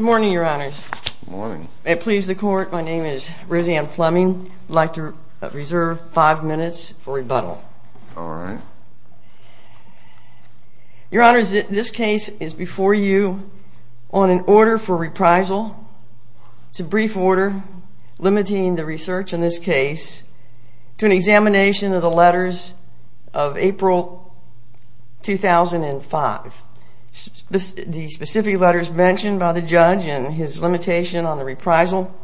Good morning, Your Honors. May it please the Court, my name is Rosanne Fleming. I'd like to reserve five minutes for rebuttal. Your Honors, this case is before you on an order for reprisal. It's a brief order limiting the research in this case to an examination of the letters of April 2005. The specific letters mentioned by the judge and his limitation on the reprisal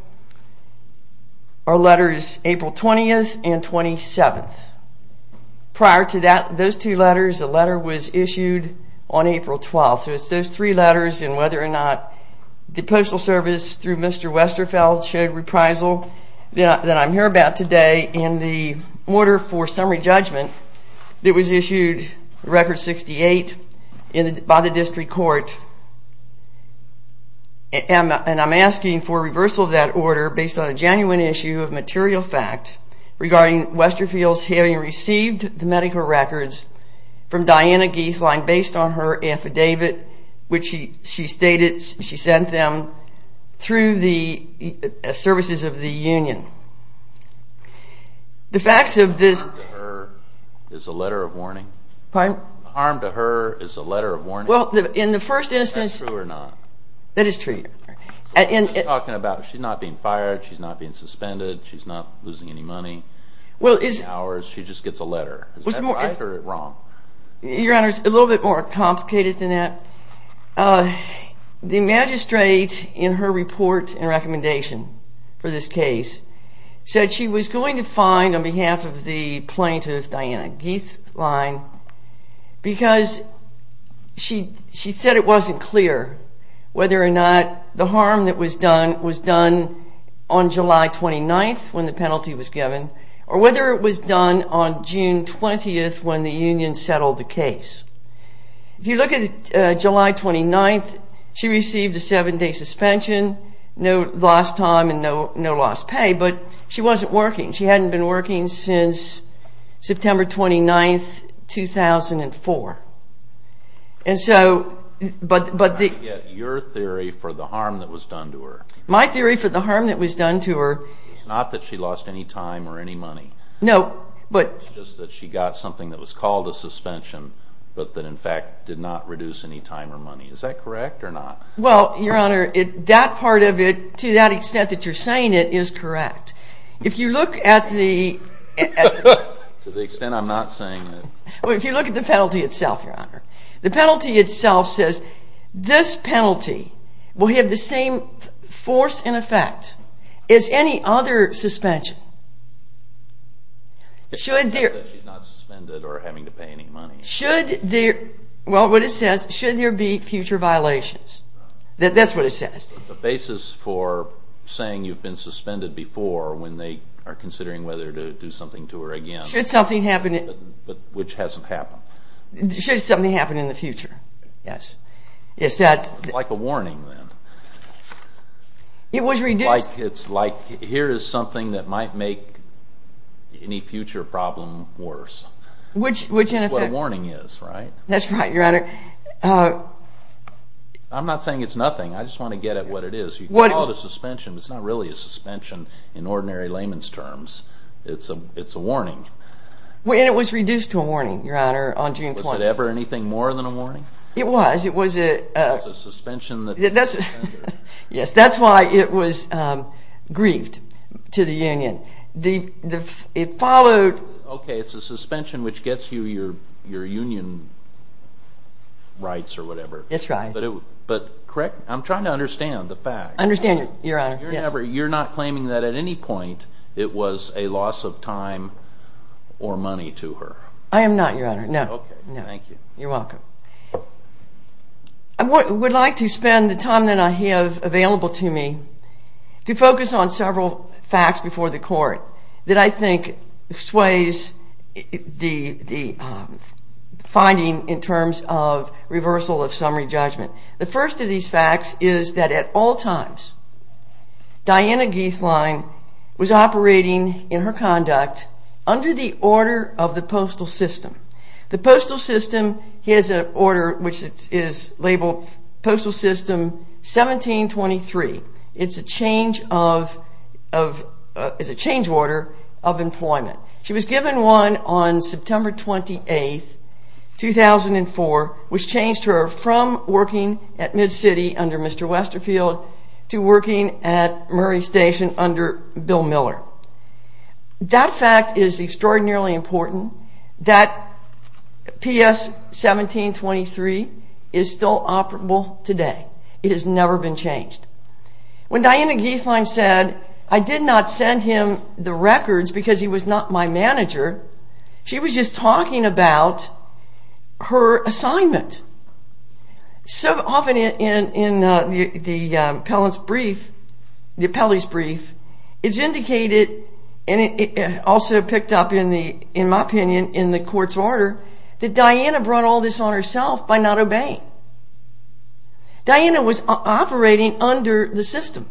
are letters April 20th and 27th. Prior to those two letters, a letter was issued on April 12th. So it's those three letters and whether or not the Postal 4 summary judgment, it was issued record 68 by the District Court. And I'm asking for reversal of that order based on a genuine issue of material fact regarding Westerfield's having received the medical records from Diana Guethlein based on her affidavit which she stated she sent them through the services of the union. The facts of this- The harm to her is a letter of warning. Pardon? The harm to her is a letter of warning. Well, in the first instance- Is that true or not? That is true. You're talking about she's not being fired, she's not being suspended, she's not losing any money, she just gets a letter. Is that right or wrong? Your Honor, it's a little bit more complicated than that. The magistrate in her report and recommendation for this case said she was going to find on behalf of the plaintiff, Diana Guethlein, because she said it wasn't clear whether or not the harm that was done was done on July 29th when the penalty was given or whether it was done on June 20th when the union settled the case. If you look at July 29th, she received a seven-day suspension, no lost time and no lost pay, but she wasn't working. She hadn't been working since September 29th, 2004. And so- I'm trying to get your theory for the harm that was done to her. My theory for the harm that was done to her- It's not that she lost any time or any money. No, but- It's just that she got something that was called a suspension, but that in fact did not reduce any time or money. Is that correct or not? Well, Your Honor, that part of it, to that extent that you're saying it, is correct. If you look at the- To the extent I'm not saying it. Well, if you look at the penalty itself, Your Honor, the penalty itself says this penalty will have the same force and effect as any other suspension. It's not that she's not suspended or having to pay any money. Should there- well, what it says, should there be future violations. That's what it says. The basis for saying you've been suspended before when they are considering whether to do something to her again- Should something happen- But which hasn't happened. Should something happen in the future, yes. Yes, that- It's like a warning then. It was reduced- It's like here is something that might make any future problem worse. Which, in effect- Which is what a warning is, right? That's right, Your Honor. I'm not saying it's nothing. I just want to get at what it is. You can call it a suspension, but it's not really a suspension in ordinary layman's terms. It's a warning. It was reduced to a warning, Your Honor, on June 20th. Was it ever anything more than a warning? It was. It was a- It was a suspension that- Yes, that's why it was grieved to the union. It followed- Okay, it's a suspension which gets you your union rights or whatever. That's right. But correct- I'm trying to understand the fact. Understand it, Your Honor. You're not claiming that at any point it was a loss of time or money to her? Okay, thank you. You're welcome. I would like to spend the time that I have available to me to focus on several facts before the court that I think sways the finding in terms of reversal of summary judgment. The first of these facts is that at all times, Diana Geithlein was operating in her conduct under the order of the postal system. The postal system, he has an order which is labeled Postal System 1723. It's a change of- is a change order of employment. She was given one on September 28th, 2004, which changed her from working at MidCity under Mr. Westerfield to working at Murray Station under Bill Miller. That fact is extraordinarily important. That PS 1723 is still operable today. It has never been changed. When Diana Geithlein said, I did not send him the records because he was not my manager, she was just talking about her assignment. So often in the appellant's brief, the appellee's brief, it's indicated and also picked up in my opinion in the court's order that Diana brought all this on herself by not obeying. Diana was operating under the system.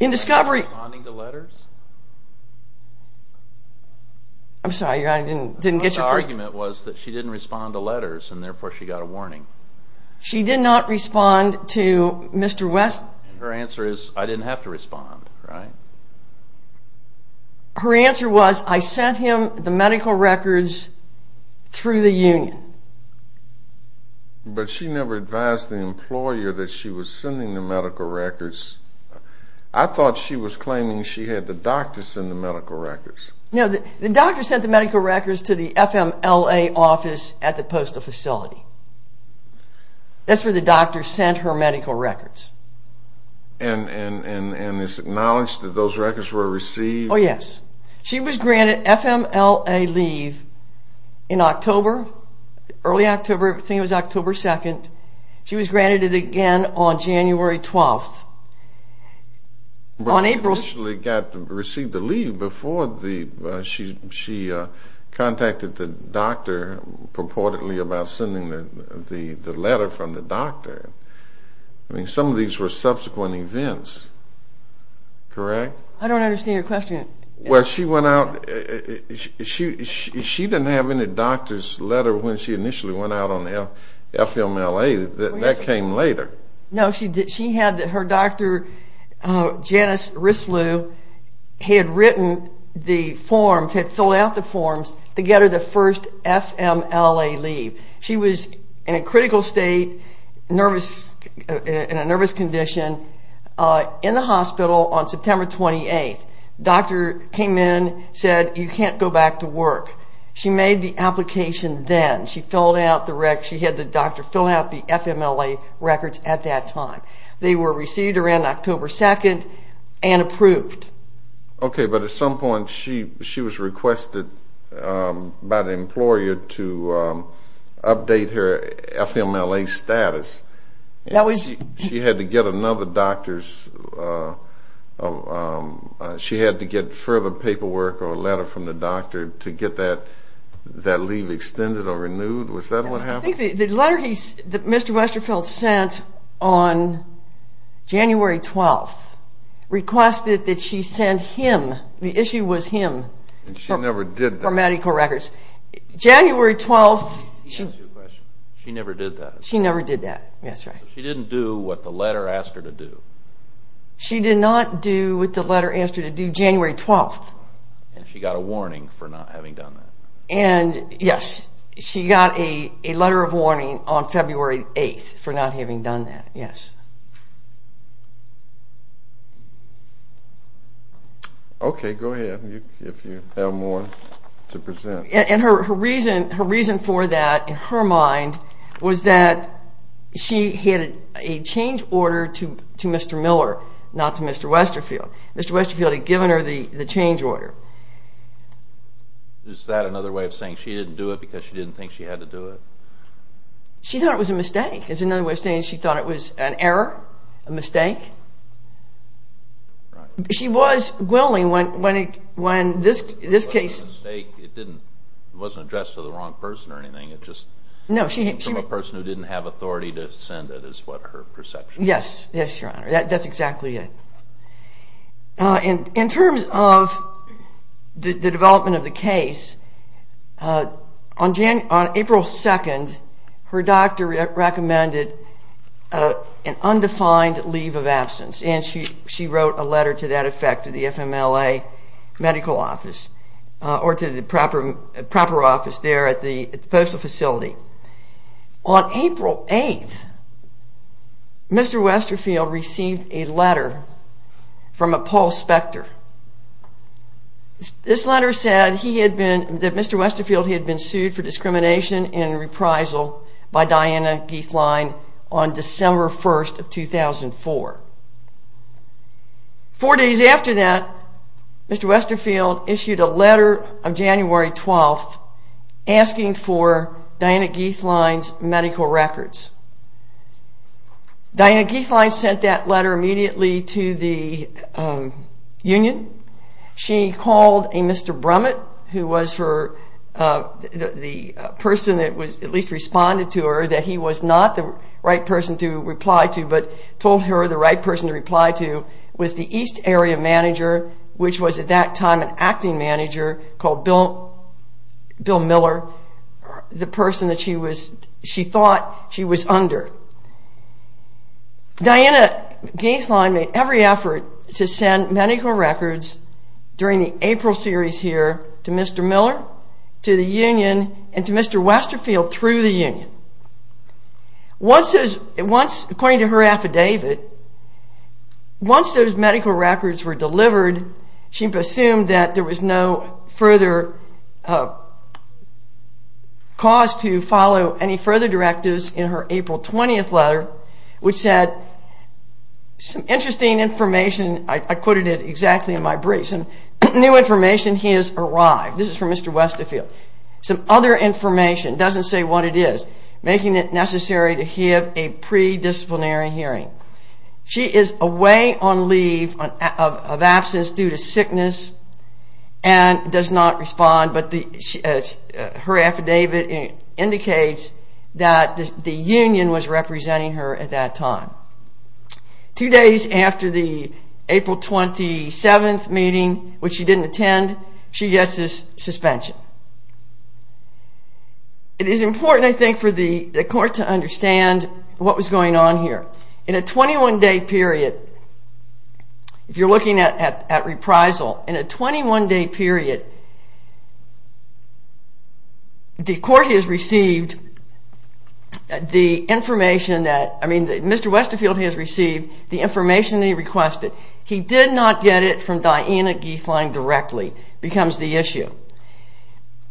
In discovery- Was she responding to letters? I'm sorry, your honor, I didn't get your first- Her answer was that she didn't respond to letters and therefore she got a warning. She did not respond to Mr. West- Her answer is, I didn't have to respond, right? Her answer was, I sent him the medical records through the union. But she never advised the employer that she was sending the medical records. I thought she was claiming she had the doctor send the medical records. No, the doctor sent the medical records to the FMLA office at the postal facility. That's where the doctor sent her medical records. And it's acknowledged that those records were received- Oh yes. She was granted FMLA leave in October, early October, I think it was October 2nd. She was granted it again on January 12th. But she initially received the leave before she contacted the doctor purportedly about sending the letter from the doctor. Some of these were subsequent events, correct? I don't understand your question. She didn't have any doctor's letter when she initially went out on FMLA. That came later. No, her doctor, Janice Risloo, had filled out the forms to get her the first FMLA leave. She was in a critical state, in a nervous condition, in the hospital on September 28th. The doctor came in and said, you can't go back to work. She made the application then. She had the doctor fill out the FMLA records at that time. They were received around October 2nd and approved. Okay, but at some point she was requested by the employer to update her FMLA status. She had to get further paperwork or a letter from the doctor to get that leave extended or renewed. Was that what happened? The letter that Mr. Westerfeld sent on January 12th requested that she send him, the issue was him, her medical records. He asked you a question. She never did that. She never did that. She didn't do what the letter asked her to do. She did not do what the letter asked her to do January 12th. And she got a warning for not having done that. Yes, she got a letter of warning on February 8th for not having done that. Yes. Okay, go ahead if you have more to present. And her reason for that, in her mind, was that she had a change order to Mr. Miller, not to Mr. Westerfeld. Mr. Westerfeld had given her the change order. Is that another way of saying she didn't do it because she didn't think she had to do it? She thought it was a mistake. Is it another way of saying she thought it was an error, a mistake? Right. She was willing when this case- It wasn't a mistake. It wasn't addressed to the wrong person or anything. It just came from a person who didn't have authority to send it is what her perception was. Yes. Yes, Your Honor. That's exactly it. In terms of the development of the case, on April 2nd, her doctor recommended an undefined leave of absence. And she wrote a letter to that effect to the FMLA medical office or to the proper office there at the postal facility. On April 8th, Mr. Westerfeld received a letter from a Paul Spector. This letter said that Mr. Westerfeld had been sued for discrimination and reprisal by Diana Geithlein on December 1st of 2004. Four days after that, Mr. Westerfeld issued a letter on January 12th asking for Diana Geithlein's medical records. Diana Geithlein sent that letter immediately to the union. She called a Mr. Brummett, who was the person that at least responded to her that he was not the right person to reply to, but told her the right person to reply to was the East Area manager, which was at that time an acting manager called Bill Miller, the person that she thought she was under. Diana Geithlein made every effort to send medical records during the April series here to Mr. Miller, to the union, and to Mr. Westerfeld through the union. According to her affidavit, once those medical records were delivered, she assumed that there was no further cause to follow any further directives in her April 20th letter, which said, some interesting information, I quoted it exactly in my brief, some new information has arrived, this is from Mr. Westerfeld, some other information, doesn't say what it is, making it necessary to have a pre-disciplinary hearing. She is away on leave of absence due to sickness and does not respond, but her affidavit indicates that the union was representing her at that time. Two days after the April 27th meeting, which she didn't attend, she gets this suspension. It is important I think for the court to understand what was going on here. In a 21-day period, if you're looking at reprisal, in a 21-day period, Mr. Westerfeld has received the information he requested. He did not get it from Diana Geithlein directly, becomes the issue.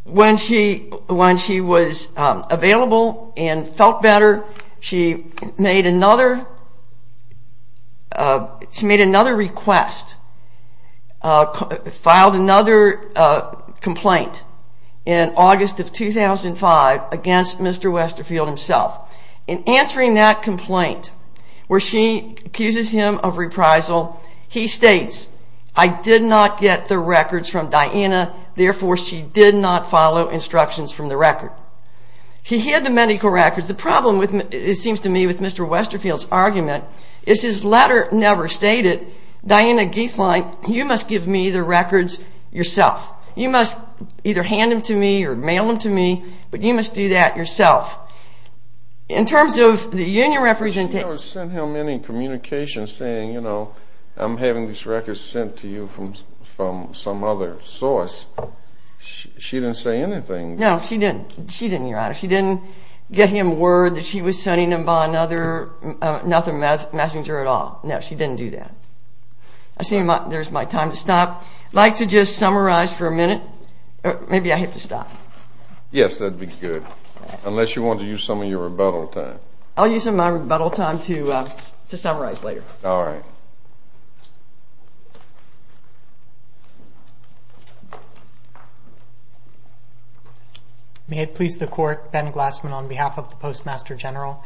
When she was available and felt better, she made another request, filed another complaint in August of 2005 against Mr. Westerfeld himself. In answering that complaint, where she accuses him of reprisal, he states, I did not get the records from Diana, therefore she did not follow instructions from the record. He hid the medical records. The problem, it seems to me, with Mr. Westerfeld's argument is his letter never stated, Diana Geithlein, you must give me the records yourself. You must either hand them to me or mail them to me, but you must do that yourself. In terms of the union representation. She never sent him any communication saying, you know, I'm having these records sent to you from some other source. She didn't say anything. No, she didn't. She didn't, Your Honor. She didn't get him word that she was sending him by another messenger at all. No, she didn't do that. I see there's my time to stop. I'd like to just summarize for a minute. Maybe I have to stop. Yes, that would be good. Unless you want to use some of your rebuttal time. I'll use my rebuttal time to summarize later. All right. May it please the Court, Ben Glassman on behalf of the Postmaster General.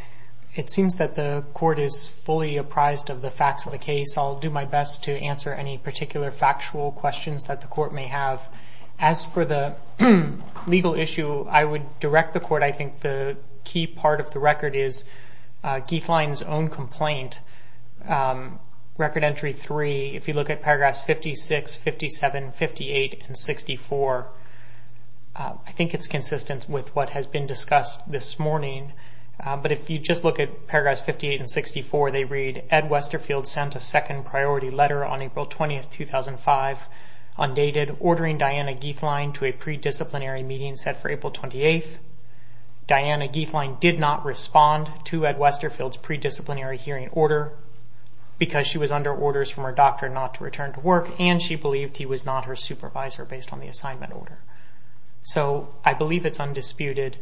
It seems that the Court is fully apprised of the facts of the case. I'll do my best to answer any particular factual questions that the Court may have. As for the legal issue, I would direct the Court. I think the key part of the record is Gieflein's own complaint, Record Entry 3. If you look at Paragraphs 56, 57, 58, and 64, I think it's consistent with what has been discussed this morning. But if you just look at Paragraphs 58 and 64, they read, Ed Westerfield sent a second priority letter on April 20th, 2005, undated, ordering Diana Gieflein to a pre-disciplinary meeting set for April 28th. Diana Gieflein did not respond to Ed Westerfield's pre-disciplinary hearing order because she was under orders from her doctor not to return to work, and she believed he was not her supervisor based on the assignment order. I believe it's undisputed,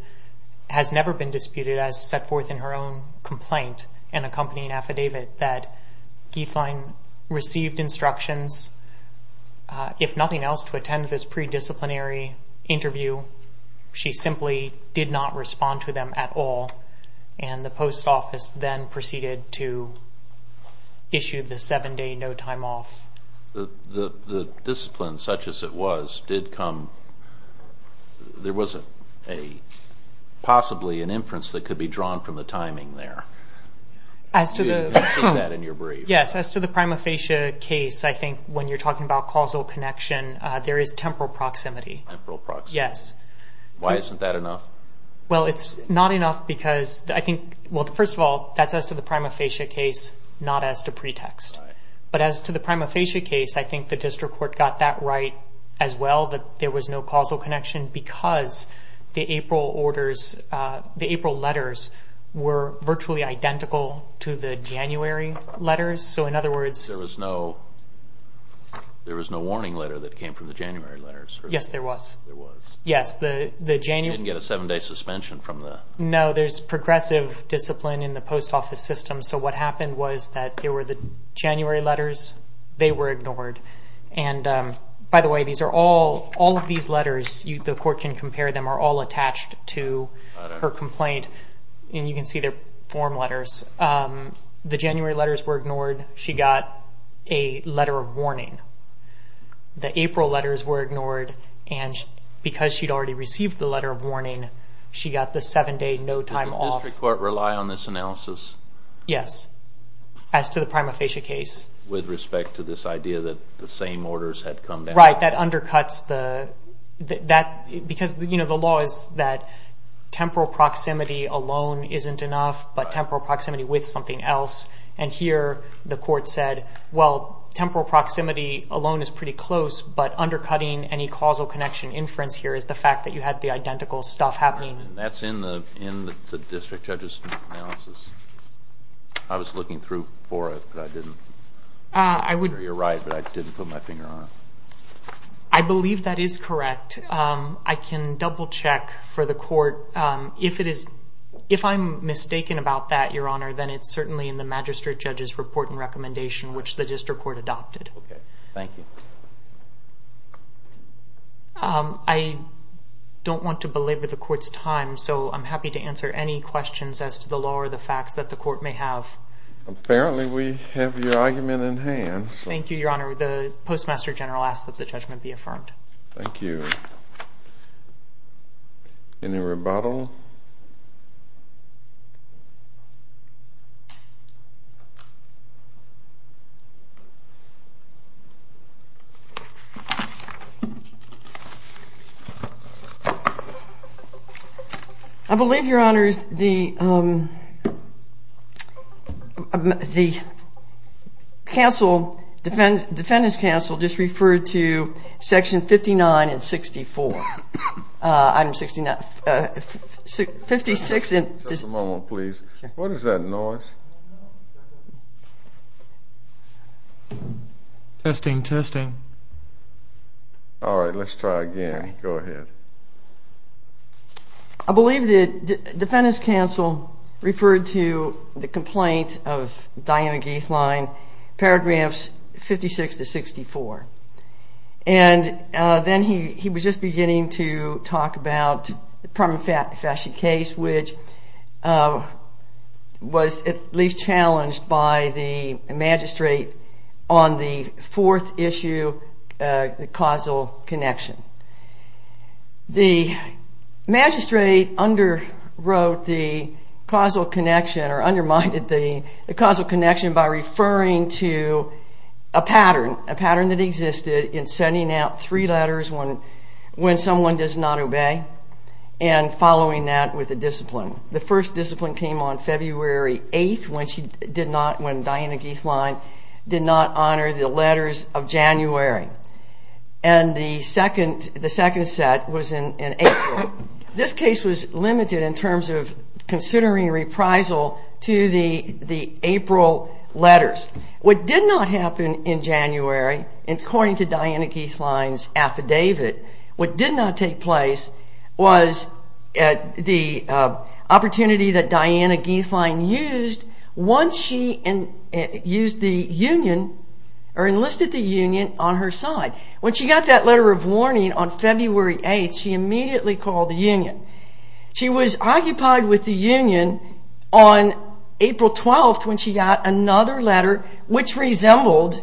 has never been disputed, but as set forth in her own complaint and accompanying affidavit, that Gieflein received instructions, if nothing else, to attend this pre-disciplinary interview. She simply did not respond to them at all, and the post office then proceeded to issue the 7-day no time off. The discipline, such as it was, did come, there was possibly an inference that could be drawn from the timing there. You mentioned that in your brief. Yes, as to the prima facie case, I think when you're talking about causal connection, there is temporal proximity. Temporal proximity. Yes. Why isn't that enough? Well, it's not enough because, I think, well, first of all, that's as to the prima facie case, not as to pretext. Right. But as to the prima facie case, I think the district court got that right as well, that there was no causal connection because the April orders, the April letters were virtually identical to the January letters. So, in other words, There was no warning letter that came from the January letters. Yes, there was. There was. Yes, the January You didn't get a 7-day suspension from the No, there's progressive discipline in the post office system. So what happened was that there were the January letters. They were ignored. And, by the way, all of these letters, the court can compare them, are all attached to her complaint. And you can see their form letters. The January letters were ignored. She got a letter of warning. The April letters were ignored. And because she'd already received the letter of warning, she got the 7-day no time off. Did the district court rely on this analysis? Yes, as to the prima facie case. With respect to this idea that the same orders had come down. Right, that undercuts the Because the law is that temporal proximity alone isn't enough, but temporal proximity with something else. And here the court said, Well, temporal proximity alone is pretty close, but undercutting any causal connection inference here is the fact that you had the identical stuff happening. And that's in the district judge's analysis. I was looking through for it, but I didn't. You're right, but I didn't put my finger on it. I believe that is correct. I can double check for the court. If I'm mistaken about that, Your Honor, then it's certainly in the magistrate judge's report and recommendation, which the district court adopted. Thank you. I don't want to belabor the court's time, so I'm happy to answer any questions as to the law or the facts that the court may have. Apparently we have your argument in hand. Thank you, Your Honor. The Postmaster General asks that the judgment be affirmed. Thank you. Any rebuttal? I believe, Your Honors, the counsel, defendant's counsel, just referred to Section 59 and 64. Item 56. Just a moment, please. What is that noise? Testing, testing. All right, let's try again. Go ahead. I believe the defendant's counsel referred to the complaint of Diana Geithlein, paragraphs 56 to 64. And then he was just beginning to talk about the Permanent Faction case, which was at least challenged by the magistrate on the fourth issue, the causal connection. The magistrate underwrote the causal connection or undermined the causal connection by referring to a pattern, a pattern that existed in sending out three letters when someone does not obey and following that with a discipline. The first discipline came on February 8th when Diana Geithlein did not honor the letters of January. And the second set was in April. This case was limited in terms of considering reprisal to the April letters. What did not happen in January, according to Diana Geithlein's affidavit, what did not take place was the opportunity that Diana Geithlein used once she enlisted the Union on her side. When she got that letter of warning on February 8th, she immediately called the Union. She was occupied with the Union on April 12th when she got another letter which resembled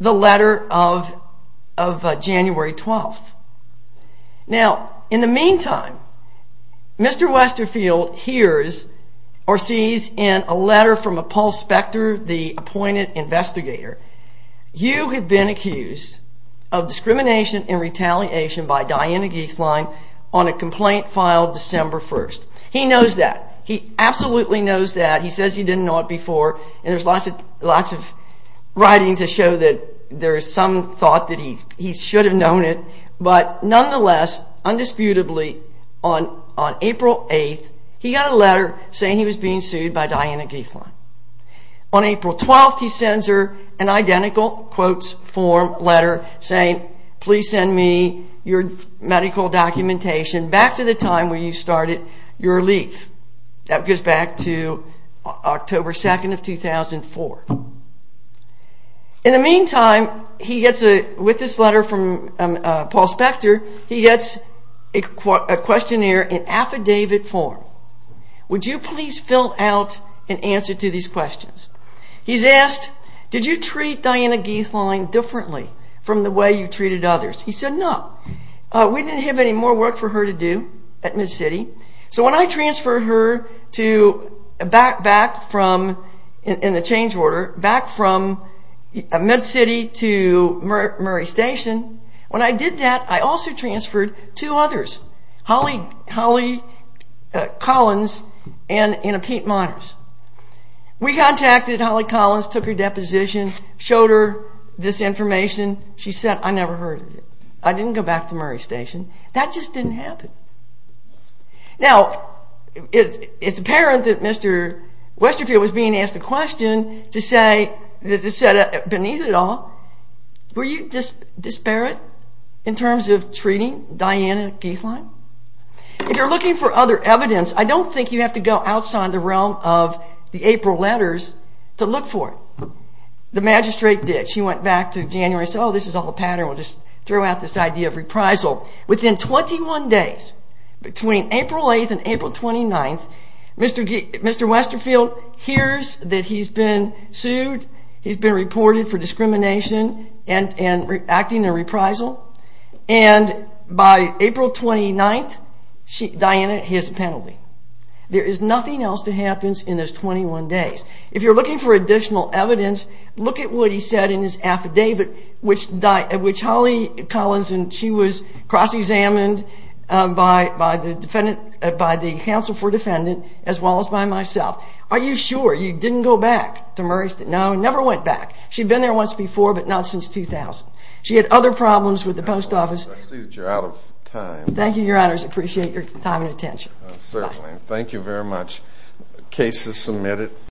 the letter of January 12th. Now, in the meantime, Mr. Westerfield hears or sees in a letter from Paul Spector, the appointed investigator, you have been accused of discrimination and retaliation by Diana Geithlein on a complaint filed December 1st. He knows that. He absolutely knows that. He says he didn't know it before. There's lots of writing to show that there's some thought that he should have known it. Nonetheless, undisputably, on April 8th, he got a letter saying he was being sued by Diana Geithlein. On April 12th, he sends her an identical letter saying, please send me your medical documentation back to the time when you started your leave. That goes back to October 2nd of 2004. In the meantime, with this letter from Paul Spector, he gets a questionnaire in affidavit form. Would you please fill out an answer to these questions? He's asked, did you treat Diana Geithlein differently from the way you treated others? He said no. We didn't have any more work for her to do at MedCity, so when I transferred her back from, in the change order, back from MedCity to Murray Station, when I did that, I also transferred two others, Holly Collins and Pete Myers. We contacted Holly Collins, took her deposition, showed her this information. She said, I never heard of it. I didn't go back to Murray Station. That just didn't happen. Now, it's apparent that Mr. Westerfield was being asked a question to say beneath it all, were you disparate in terms of treating Diana Geithlein? If you're looking for other evidence, I don't think you have to go outside the realm of the April letters to look for it. The magistrate did. She went back to January and said, oh, this is all a pattern. We'll just throw out this idea of reprisal. Within 21 days, between April 8th and April 29th, Mr. Westerfield hears that he's been sued. He's been reported for discrimination and acting in reprisal. And by April 29th, Diana, he has a penalty. There is nothing else that happens in those 21 days. If you're looking for additional evidence, look at what he said in his affidavit, which Holly Collins, she was cross-examined by the counsel for defendant as well as by myself. Are you sure you didn't go back to Murrayston? No, never went back. She'd been there once before, but not since 2000. She had other problems with the post office. I see that you're out of time. Thank you, Your Honors. I appreciate your time and attention. Thank you very much. Case is submitted.